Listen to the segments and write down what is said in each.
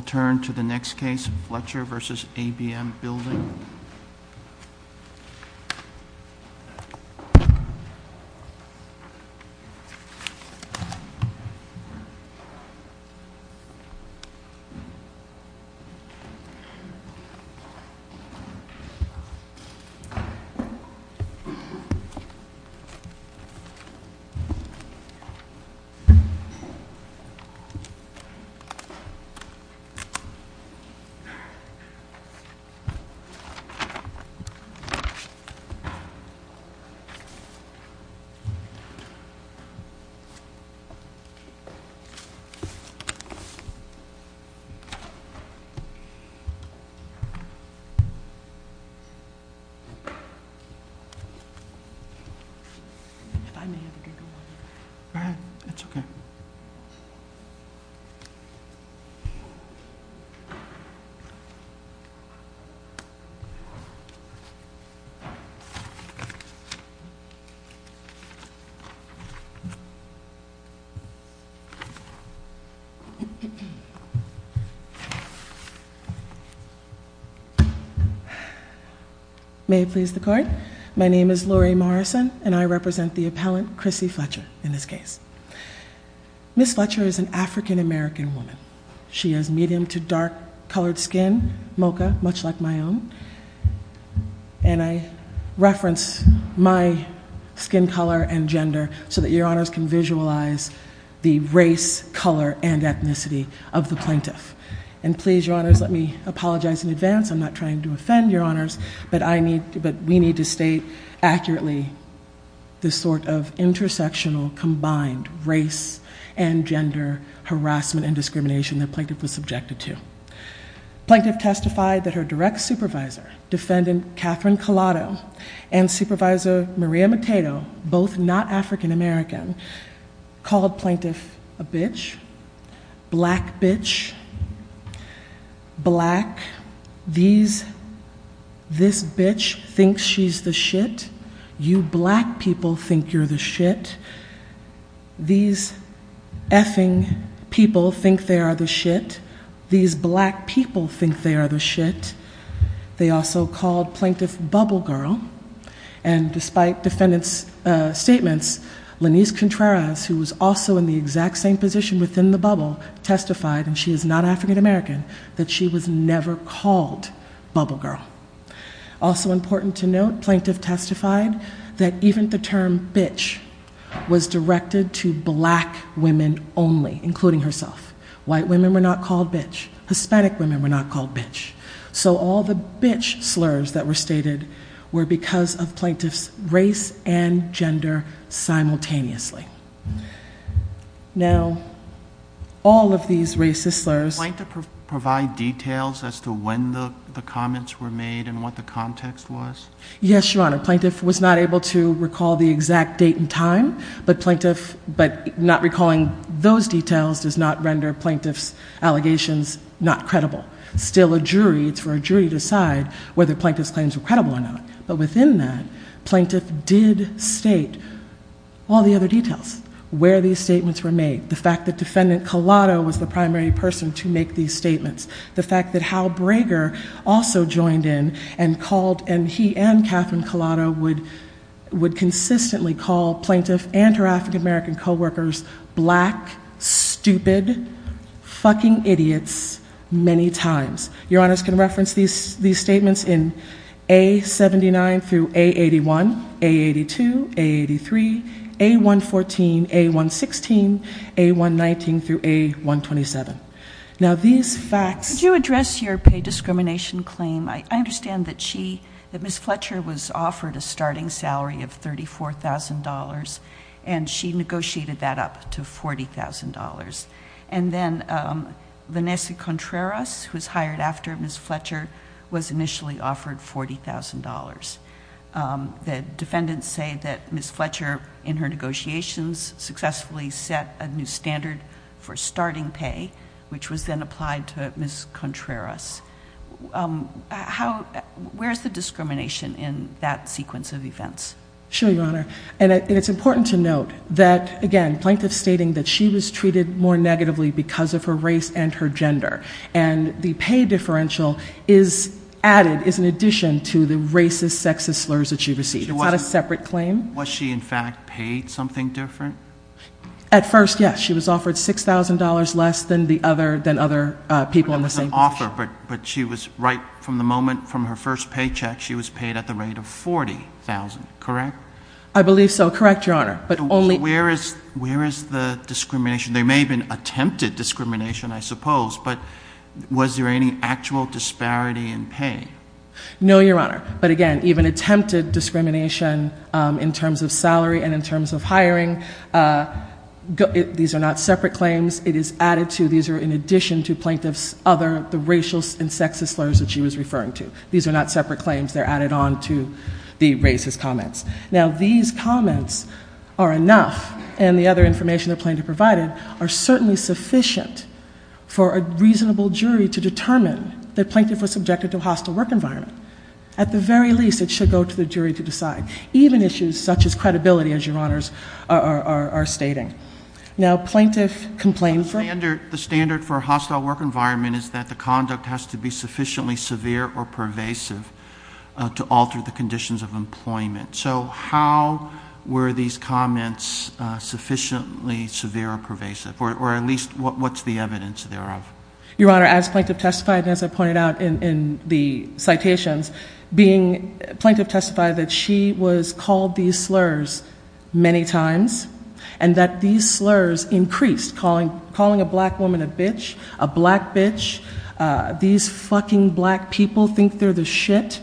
We'll turn to the next case, Fletcher v. ABM Building. Fletcher v. ABM Building Value May it please the Court, my name is Lori Morrison and I represent the appellant Chrissy Fletcher in this case. Ms. Fletcher is an African American woman. She has medium to dark colored skin, mocha, much like my own. And I reference my skin color and gender so that your honors can visualize the race, color, and ethnicity of the plaintiff. And please, your honors, let me apologize in advance. I'm not trying to offend your honors, but we need to state accurately the sort of intersectional, combined race and gender harassment and discrimination the plaintiff was subjected to. Plaintiff testified that her direct supervisor, defendant Catherine Collado, and supervisor Maria McTato, both not African American, called plaintiff a bitch, black bitch, black, these, this bitch thinks she's the shit, you black people think you're the shit, these effing people think they are the shit, these black people think they are the shit, they also called plaintiff bubble girl, and despite defendant's statements, Lanise Contreras, who was also in the exact same position within the bubble, testified, and she is not African American, that she was never called bubble girl. Also important to note, plaintiff testified that even the term bitch was directed to black women only, including herself. White women were not called bitch. Hispanic women were not called bitch. So all the bitch slurs that were stated were because of plaintiff's race and gender simultaneously. Now, all of these racist slurs- Plaintiff provide details as to when the comments were made and what the context was? Yes, Your Honor. Plaintiff was not able to recall the exact date and time, but plaintiff, but not recalling those details does not render plaintiff's allegations not credible. Still a jury, it's for a jury to decide whether plaintiff's claims were credible or not. But within that, plaintiff did state all the other details. Where these statements were made, the fact that defendant Collado was the primary person to make these statements, the fact that Hal Brager also joined in and called, and he and Catherine Collado would, would consistently call plaintiff and her African American coworkers black, stupid, fucking idiots, many times. Your Honors can reference these statements in A-79 through A-81, A-82, A-83, A-114, A-116, A-119 through A-127. Now these facts- Could you address your pay discrimination claim? I understand that she, that Ms. Fletcher was offered a starting salary of $34,000 and she negotiated that up to $40,000. And then Vanessa Contreras, who's hired after Ms. Fletcher, was initially offered $40,000. The defendants say that Ms. Fletcher, in her negotiations, successfully set a new standard for starting pay, which was then applied to Ms. Contreras. How, where's the discrimination in that sequence of events? Sure, Your Honor. And it's important to note that, again, plaintiff stating that she was treated more negatively because of her race and her gender. And the pay differential is added, is an addition to the racist, sexist slurs that she received. It's not a separate claim. Was she in fact paid something different? At first, yes. She was offered $6,000 less than the other, than other people in the same position. She was offered, but she was, right from the moment from her first paycheck, she was paid at the rate of $40,000, correct? I believe so. Correct, Your Honor. But only- So where is, where is the discrimination? There may have been attempted discrimination, I suppose, but was there any actual disparity in pay? No, Your Honor. But again, even attempted discrimination in terms of salary and in terms of hiring, these are not separate claims. It is added to, these are in addition to plaintiff's other, the racial and sexist slurs that she was referring to. These are not separate claims. They're added on to the racist comments. Now, these comments are enough, and the other information the plaintiff provided are certainly sufficient for a reasonable jury to determine that plaintiff was subjected to a hostile work environment. At the very least, it should go to the jury to decide. Even issues such as credibility, as Your Honors are stating. Now, plaintiff complained for- The standard, the standard for a hostile work environment is that the conduct has to be sufficiently severe or pervasive to alter the conditions of employment. So how were these comments sufficiently severe or pervasive? Or at least, what's the evidence thereof? Your Honor, as plaintiff testified, as I pointed out in the citations, being, plaintiff testified that she was called these slurs many times. And that these slurs increased, calling a black woman a bitch, a black bitch, these fucking black people think they're the shit.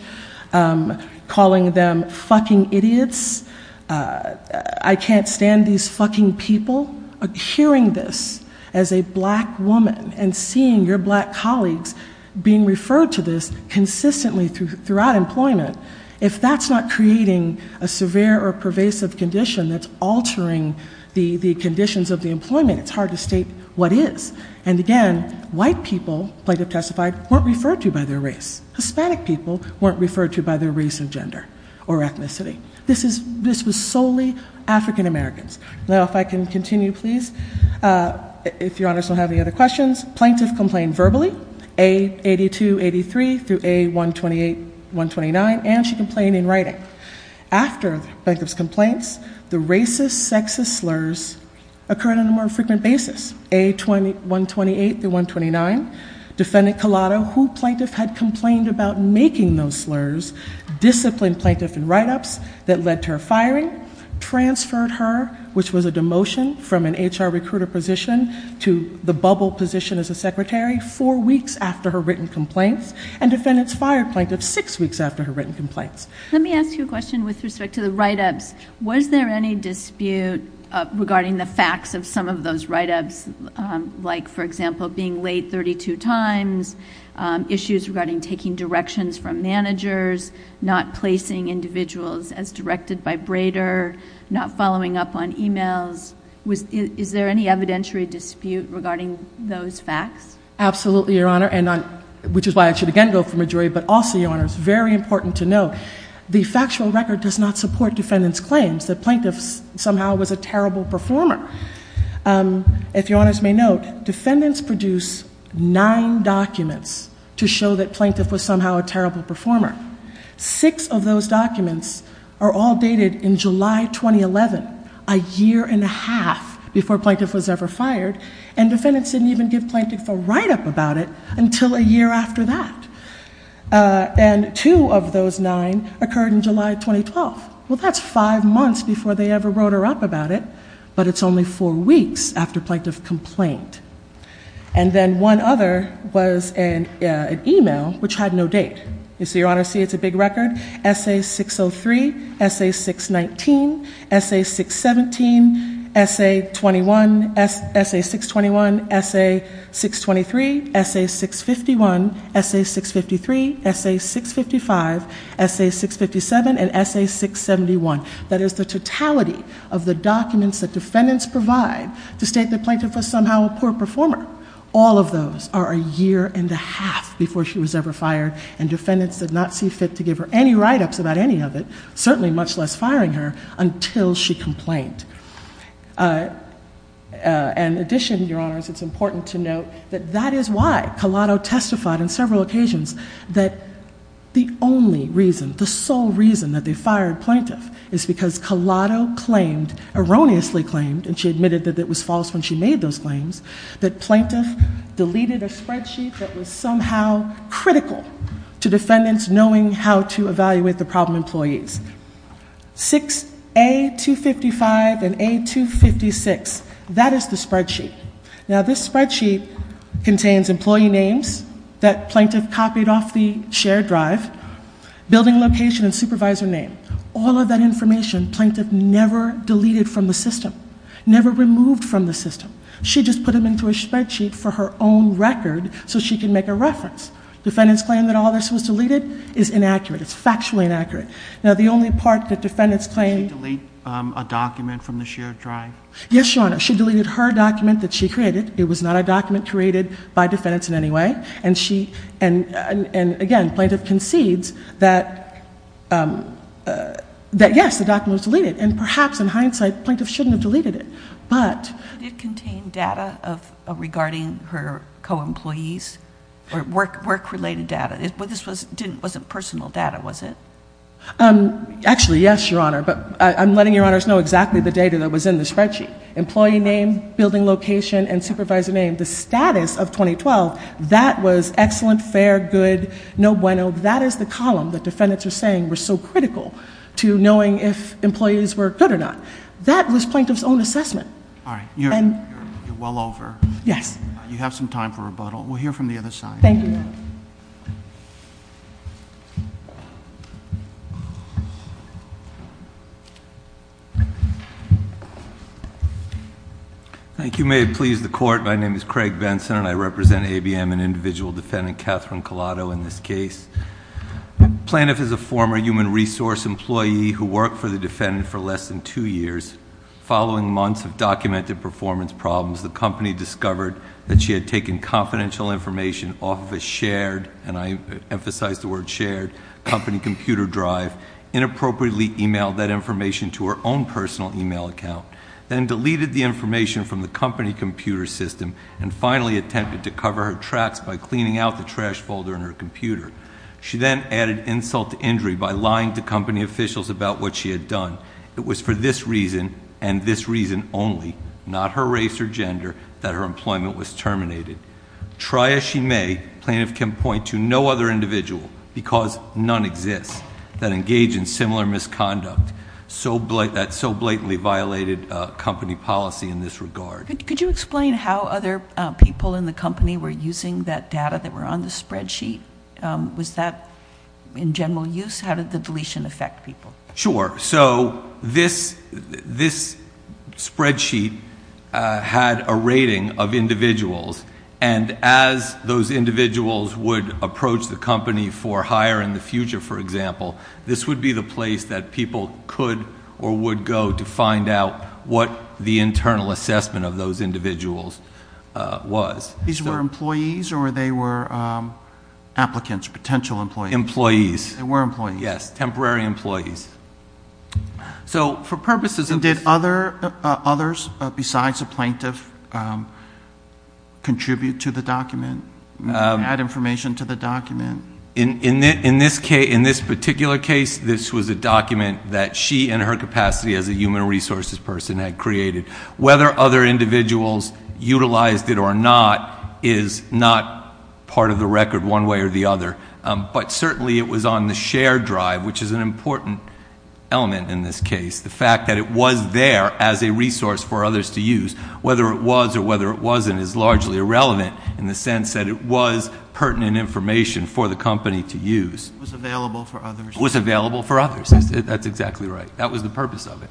Calling them fucking idiots. I can't stand these fucking people. Hearing this as a black woman and seeing your black colleagues being referred to this consistently throughout employment. If that's not creating a severe or pervasive condition that's altering the conditions of the employment, it's hard to state what is. And again, white people, plaintiff testified, weren't referred to by their race. Hispanic people weren't referred to by their race and gender or ethnicity. This was solely African Americans. Now, if I can continue, please. If Your Honors don't have any other questions. Plaintiff complained verbally, A-82-83 through A-128-129, and she complained in writing. After plaintiff's complaints, the racist, sexist slurs occurred on a more frequent basis. A-128-129. Defendant Collado, who plaintiff had complained about making those slurs, disciplined plaintiff in write-ups that led to her firing. Transferred her, which was a demotion from an HR recruiter position to the bubble position as a secretary, four weeks after her written complaints. And defendants fired plaintiff six weeks after her written complaints. Let me ask you a question with respect to the write-ups. Was there any dispute regarding the facts of some of those write-ups? Like, for example, being late 32 times, issues regarding taking directions from managers, not placing individuals as directed by Brader, not following up on emails. Is there any evidentiary dispute regarding those facts? Absolutely, Your Honor, which is why I should again go from a jury, but also, Your Honor, it's very important to note, the factual record does not support defendant's claims that plaintiff somehow was a terrible performer. If Your Honors may note, defendants produce nine documents to show that plaintiff was somehow a terrible performer. Six of those documents are all dated in July 2011, a year and a half before plaintiff was ever fired, and defendants didn't even give plaintiff a write-up about it until a year after that. And two of those nine occurred in July 2012. Well, that's five months before they ever wrote her up about it, but it's only four weeks after plaintiff complained. And then one other was an email which had no date. You see, Your Honor, see, it's a big record. Essay 603, Essay 619, Essay 617, Essay 621, Essay 623, Essay 651, Essay 653, Essay 655, Essay 657, and Essay 671. That is the totality of the documents that defendants provide to state that plaintiff was somehow a poor performer. All of those are a year and a half before she was ever fired, and defendants did not see fit to give her any write-ups about any of it, certainly much less firing her, until she complained. In addition, Your Honors, it's important to note that that is why Collado testified on several occasions that the only reason, the sole reason that they fired plaintiff is because Collado claimed, erroneously claimed, and she admitted that it was false when she made those claims, that plaintiff deleted a spreadsheet that was somehow critical to defendants knowing how to evaluate the problem employees. 6A255 and A256, that is the spreadsheet. Now, this spreadsheet contains employee names that plaintiff copied off the shared drive, building location and supervisor name. All of that information plaintiff never deleted from the system, never removed from the system. She just put them into a spreadsheet for her own record so she can make a reference. Defendants claim that all this was deleted is inaccurate. It's factually inaccurate. Now, the only part that defendants claim- Did she delete a document from the shared drive? Yes, Your Honor. She deleted her document that she created. It was not a document created by defendants in any way. And, again, plaintiff concedes that, yes, the document was deleted, and perhaps in hindsight plaintiff shouldn't have deleted it. But- Did it contain data regarding her co-employees or work-related data? This wasn't personal data, was it? Actually, yes, Your Honor, but I'm letting Your Honors know exactly the data that was in the spreadsheet. Employee name, building location, and supervisor name. The status of 2012, that was excellent, fair, good, no bueno. That is the column that defendants are saying was so critical to knowing if employees were good or not. That was plaintiff's own assessment. All right. You're well over. Yes. You have some time for rebuttal. We'll hear from the other side. Thank you, Your Honor. Thank you. May it please the Court. My name is Craig Benson, and I represent ABM and individual defendant Catherine Collado in this case. Plaintiff is a former human resource employee who worked for the defendant for less than two years. Following months of documented performance problems, the company discovered that she had taken confidential information off of a shared, and I emphasize the word shared, company computer drive, inappropriately emailed that information to her own personal email account. Then deleted the information from the company computer system, and finally attempted to cover her tracks by cleaning out the trash folder in her computer. She then added insult to injury by lying to company officials about what she had done. It was for this reason, and this reason only, not her race or gender, that her employment was terminated. Try as she may, plaintiff can point to no other individual, because none exist, that engage in similar misconduct that so blatantly violated company policy in this regard. Could you explain how other people in the company were using that data that were on the spreadsheet? Was that in general use? How did the deletion affect people? Sure. So this spreadsheet had a rating of individuals, and as those individuals would approach the company for hire in the future, for example, this would be the place that people could or would go to find out what the internal assessment of those individuals was. These were employees, or they were applicants, potential employees? Employees. They were employees. Yes, temporary employees. And did others besides the plaintiff contribute to the document, add information to the document? In this particular case, this was a document that she in her capacity as a human resources person had created. Whether other individuals utilized it or not is not part of the record one way or the other, but certainly it was on the share drive, which is an important element in this case. The fact that it was there as a resource for others to use, whether it was or whether it wasn't, is largely irrelevant in the sense that it was pertinent information for the company to use. It was available for others. It was available for others. That's exactly right. That was the purpose of it.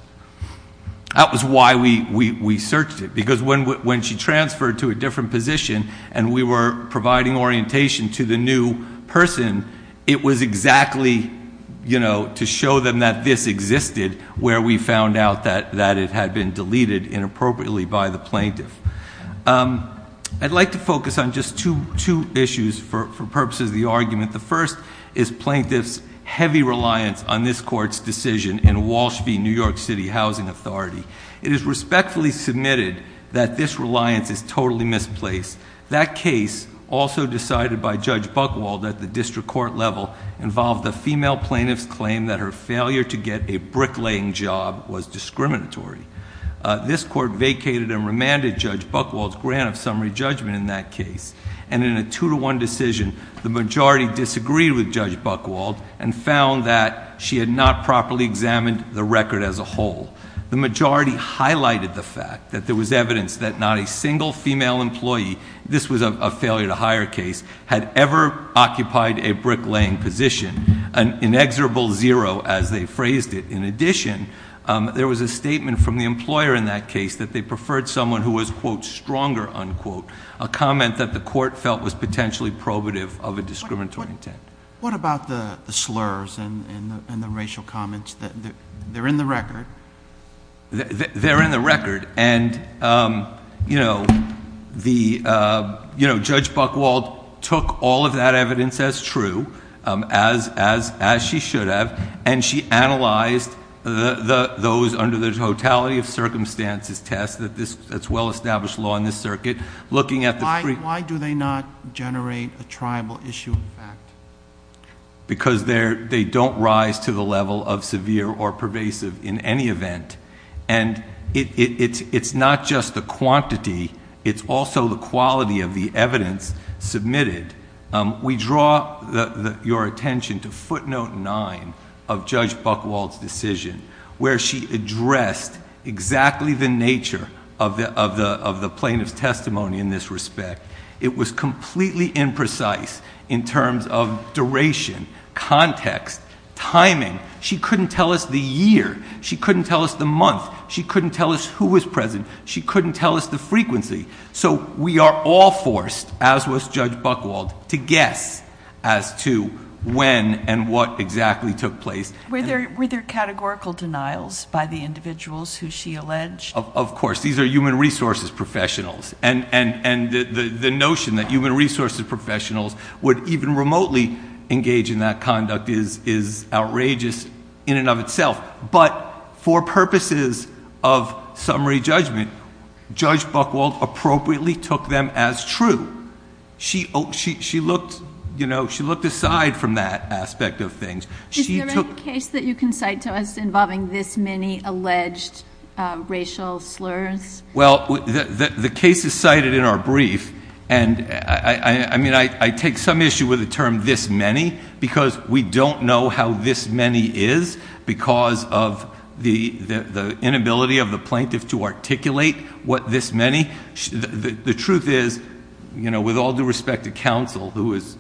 That was why we searched it, because when she transferred to a different position and we were providing orientation to the new person, it was exactly to show them that this existed, where we found out that it had been deleted inappropriately by the plaintiff. I'd like to focus on just two issues for purposes of the argument. The first is plaintiff's heavy reliance on this court's decision in Walsh v. New York City Housing Authority. It is respectfully submitted that this reliance is totally misplaced. That case, also decided by Judge Buchwald at the district court level, involved a female plaintiff's claim that her failure to get a bricklaying job was discriminatory. This court vacated and remanded Judge Buchwald's grant of summary judgment in that case, and in a two-to-one decision, the majority disagreed with Judge Buchwald and found that she had not properly examined the record as a whole. The majority highlighted the fact that there was evidence that not a single female employee, this was a failure to hire case, had ever occupied a bricklaying position, an inexorable zero as they phrased it. In addition, there was a statement from the employer in that case that they preferred someone who was, quote, stronger, unquote, a comment that the court felt was potentially probative of a discriminatory intent. What about the slurs and the racial comments? They're in the record. They're in the record, and, you know, Judge Buchwald took all of that evidence as true, as she should have, and she analyzed those under the totality of circumstances test that's well-established law in this circuit, looking at the free... because they don't rise to the level of severe or pervasive in any event, and it's not just the quantity, it's also the quality of the evidence submitted. We draw your attention to footnote nine of Judge Buchwald's decision, where she addressed exactly the nature of the plaintiff's testimony in this respect. It was completely imprecise in terms of duration, context, timing. She couldn't tell us the year. She couldn't tell us the month. She couldn't tell us who was present. She couldn't tell us the frequency. So we are all forced, as was Judge Buchwald, to guess as to when and what exactly took place. Were there categorical denials by the individuals who she alleged? Of course. These are human resources professionals, and the notion that human resources professionals would even remotely engage in that conduct is outrageous in and of itself. But for purposes of summary judgment, Judge Buchwald appropriately took them as true. She looked aside from that aspect of things. Is there any case that you can cite to us involving this many alleged racial slurs? Well, the case is cited in our brief, and I take some issue with the term this many because we don't know how this many is because of the inability of the plaintiff to articulate what this many. The truth is, with all due respect to counsel, who is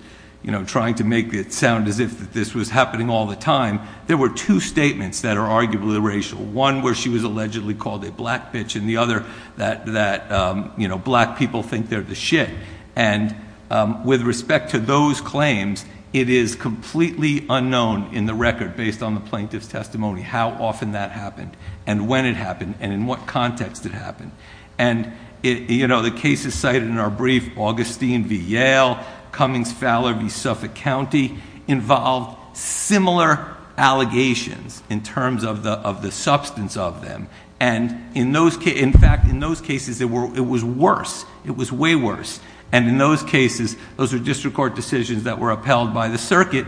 trying to make it sound as if this was happening all the time, there were two statements that are arguably racial, one where she was allegedly called a black bitch and the other that black people think they're the shit. And with respect to those claims, it is completely unknown in the record based on the plaintiff's testimony how often that happened and when it happened and in what context it happened. The cases cited in our brief, Augustine v. Yale, Cummings-Fowler v. Suffolk County, involved similar allegations in terms of the substance of them. In fact, in those cases, it was worse. It was way worse. In those cases, those are district court decisions that were upheld by the circuit.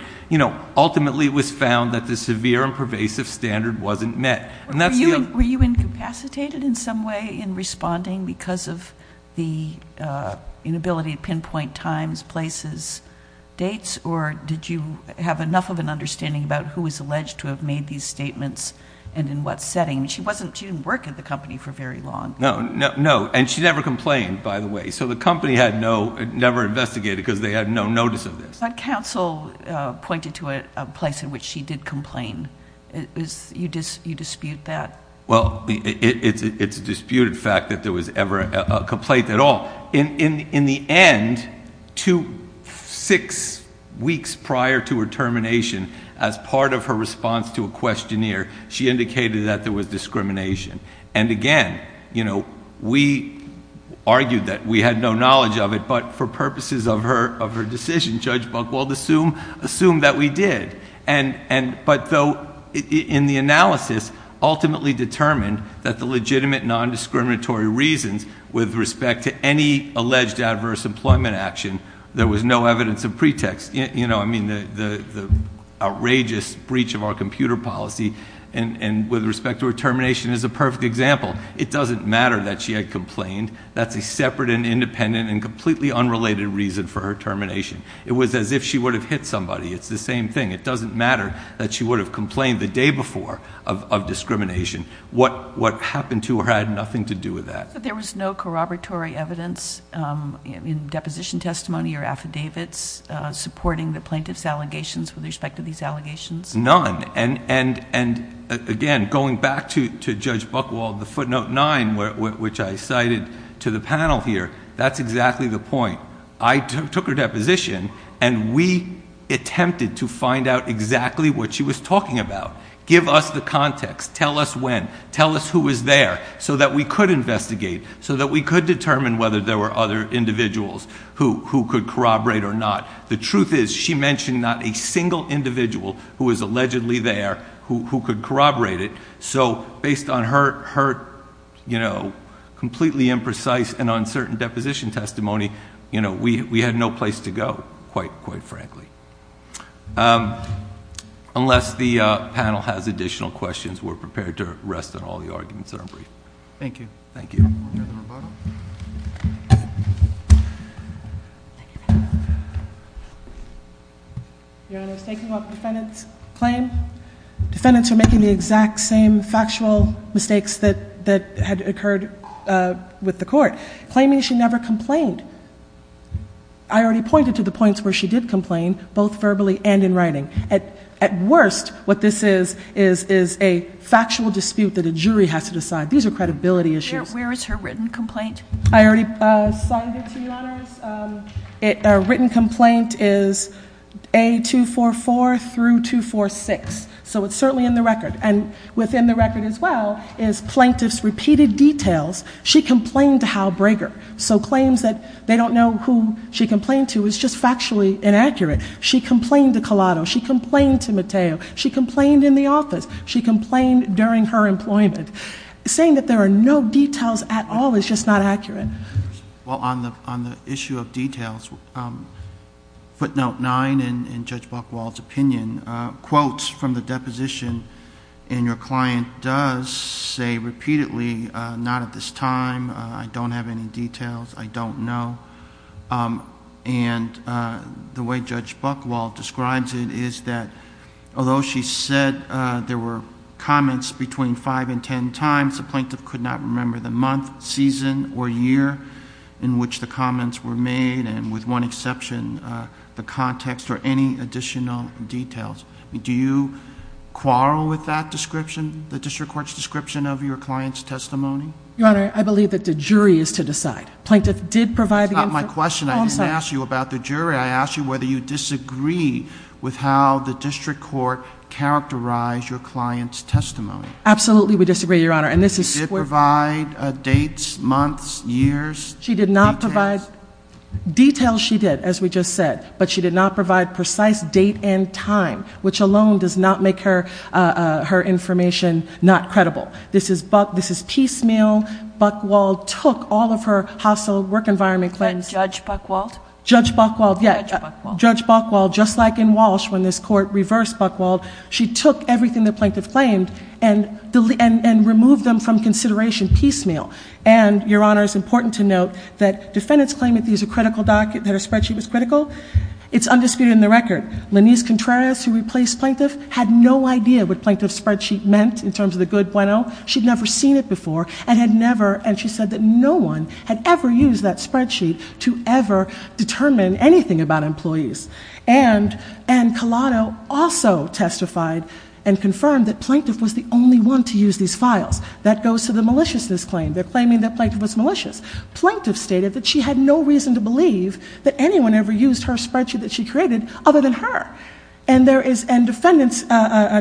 Ultimately, it was found that the severe and pervasive standard wasn't met. Were you incapacitated in some way in responding because of the inability to pinpoint times, places, dates, or did you have enough of an understanding about who was alleged to have made these statements and in what setting? She didn't work at the company for very long. No, and she never complained, by the way. So the company never investigated because they had no notice of this. But counsel pointed to a place in which she did complain. You dispute that? Well, it's a disputed fact that there was ever a complaint at all. In the end, six weeks prior to her termination, as part of her response to a questionnaire, she indicated that there was discrimination. And again, we argued that we had no knowledge of it, but for purposes of her decision, Judge Buchwald assumed that we did. But though in the analysis ultimately determined that the legitimate nondiscriminatory reasons with respect to any alleged adverse employment action, there was no evidence of pretext. I mean, the outrageous breach of our computer policy and with respect to her termination is a perfect example. It doesn't matter that she had complained. That's a separate and independent and completely unrelated reason for her termination. It was as if she would have hit somebody. It's the same thing. It doesn't matter that she would have complained the day before of discrimination. What happened to her had nothing to do with that. So there was no corroboratory evidence in deposition testimony or affidavits supporting the plaintiff's allegations with respect to these allegations? None. And again, going back to Judge Buchwald, the footnote 9, which I cited to the panel here, that's exactly the point. I took her deposition and we attempted to find out exactly what she was talking about. Give us the context. Tell us when. Tell us who was there so that we could investigate, so that we could determine whether there were other individuals who could corroborate or not. The truth is she mentioned not a single individual who was allegedly there who could corroborate it. So based on her completely imprecise and uncertain deposition testimony, we had no place to go, quite frankly. Unless the panel has additional questions, we're prepared to rest on all the arguments that are brief. Thank you. Thank you. Your Honor, I was taking about the defendant's claim. Defendants are making the exact same factual mistakes that had occurred with the court, claiming she never complained. I already pointed to the points where she did complain, both verbally and in writing. At worst, what this is is a factual dispute that a jury has to decide. These are credibility issues. Where is her written complaint? I already signed it to you, Your Honors. A written complaint is A244 through 246. So it's certainly in the record. And within the record as well is plaintiff's repeated details. She complained to Hal Breger. So claims that they don't know who she complained to is just factually inaccurate. She complained to Collado. She complained to Mateo. She complained in the office. She complained during her employment. Saying that there are no details at all is just not accurate. Well, on the issue of details, footnote nine in Judge Buchwald's opinion, quotes from the deposition, and your client does say repeatedly, not at this time. I don't have any details. I don't know. And the way Judge Buchwald describes it is that although she said there were comments between five and ten times, the plaintiff could not remember the month, season, or year in which the comments were made, and with one exception, the context or any additional details. Do you quarrel with that description, the district court's description of your client's testimony? Your Honor, I believe that the jury is to decide. Plaintiff did provide the information. That's not my question. I didn't ask you about the jury. I asked you whether you disagree with how the district court characterized your client's testimony. Absolutely, we disagree, Your Honor. Did she provide dates, months, years, details? Details she did, as we just said, but she did not provide precise date and time, which alone does not make her information not credible. This is piecemeal. Buchwald took all of her hostile work environment claims. And Judge Buchwald? Judge Buchwald, yes. Judge Buchwald. Judge Buchwald, just like in Walsh when this court reversed Buchwald, she took everything the plaintiff claimed and removed them from consideration piecemeal. And, Your Honor, it's important to note that defendants claim that these are critical documents, that her spreadsheet was critical. It's undisputed in the record. Linise Contreras, who replaced Plaintiff, had no idea what Plaintiff's spreadsheet meant in terms of the good bueno. She'd never seen it before and had never, and she said that no one had ever used that spreadsheet to ever determine anything about employees. And Kalado also testified and confirmed that Plaintiff was the only one to use these files. That goes to the maliciousness claim. They're claiming that Plaintiff was malicious. Plaintiff stated that she had no reason to believe that anyone ever used her spreadsheet that she created other than her. And defendants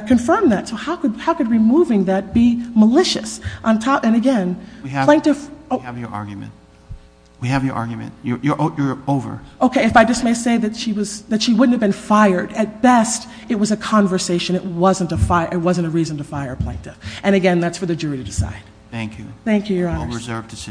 confirmed that. So how could removing that be malicious? And, again, Plaintiff? We have your argument. We have your argument. You're over. Okay, if I just may say that she wouldn't have been fired. At best, it was a conversation. It wasn't a reason to fire Plaintiff. And, again, that's for the jury to decide. Thank you. Thank you, Your Honors. A well-reserved decision.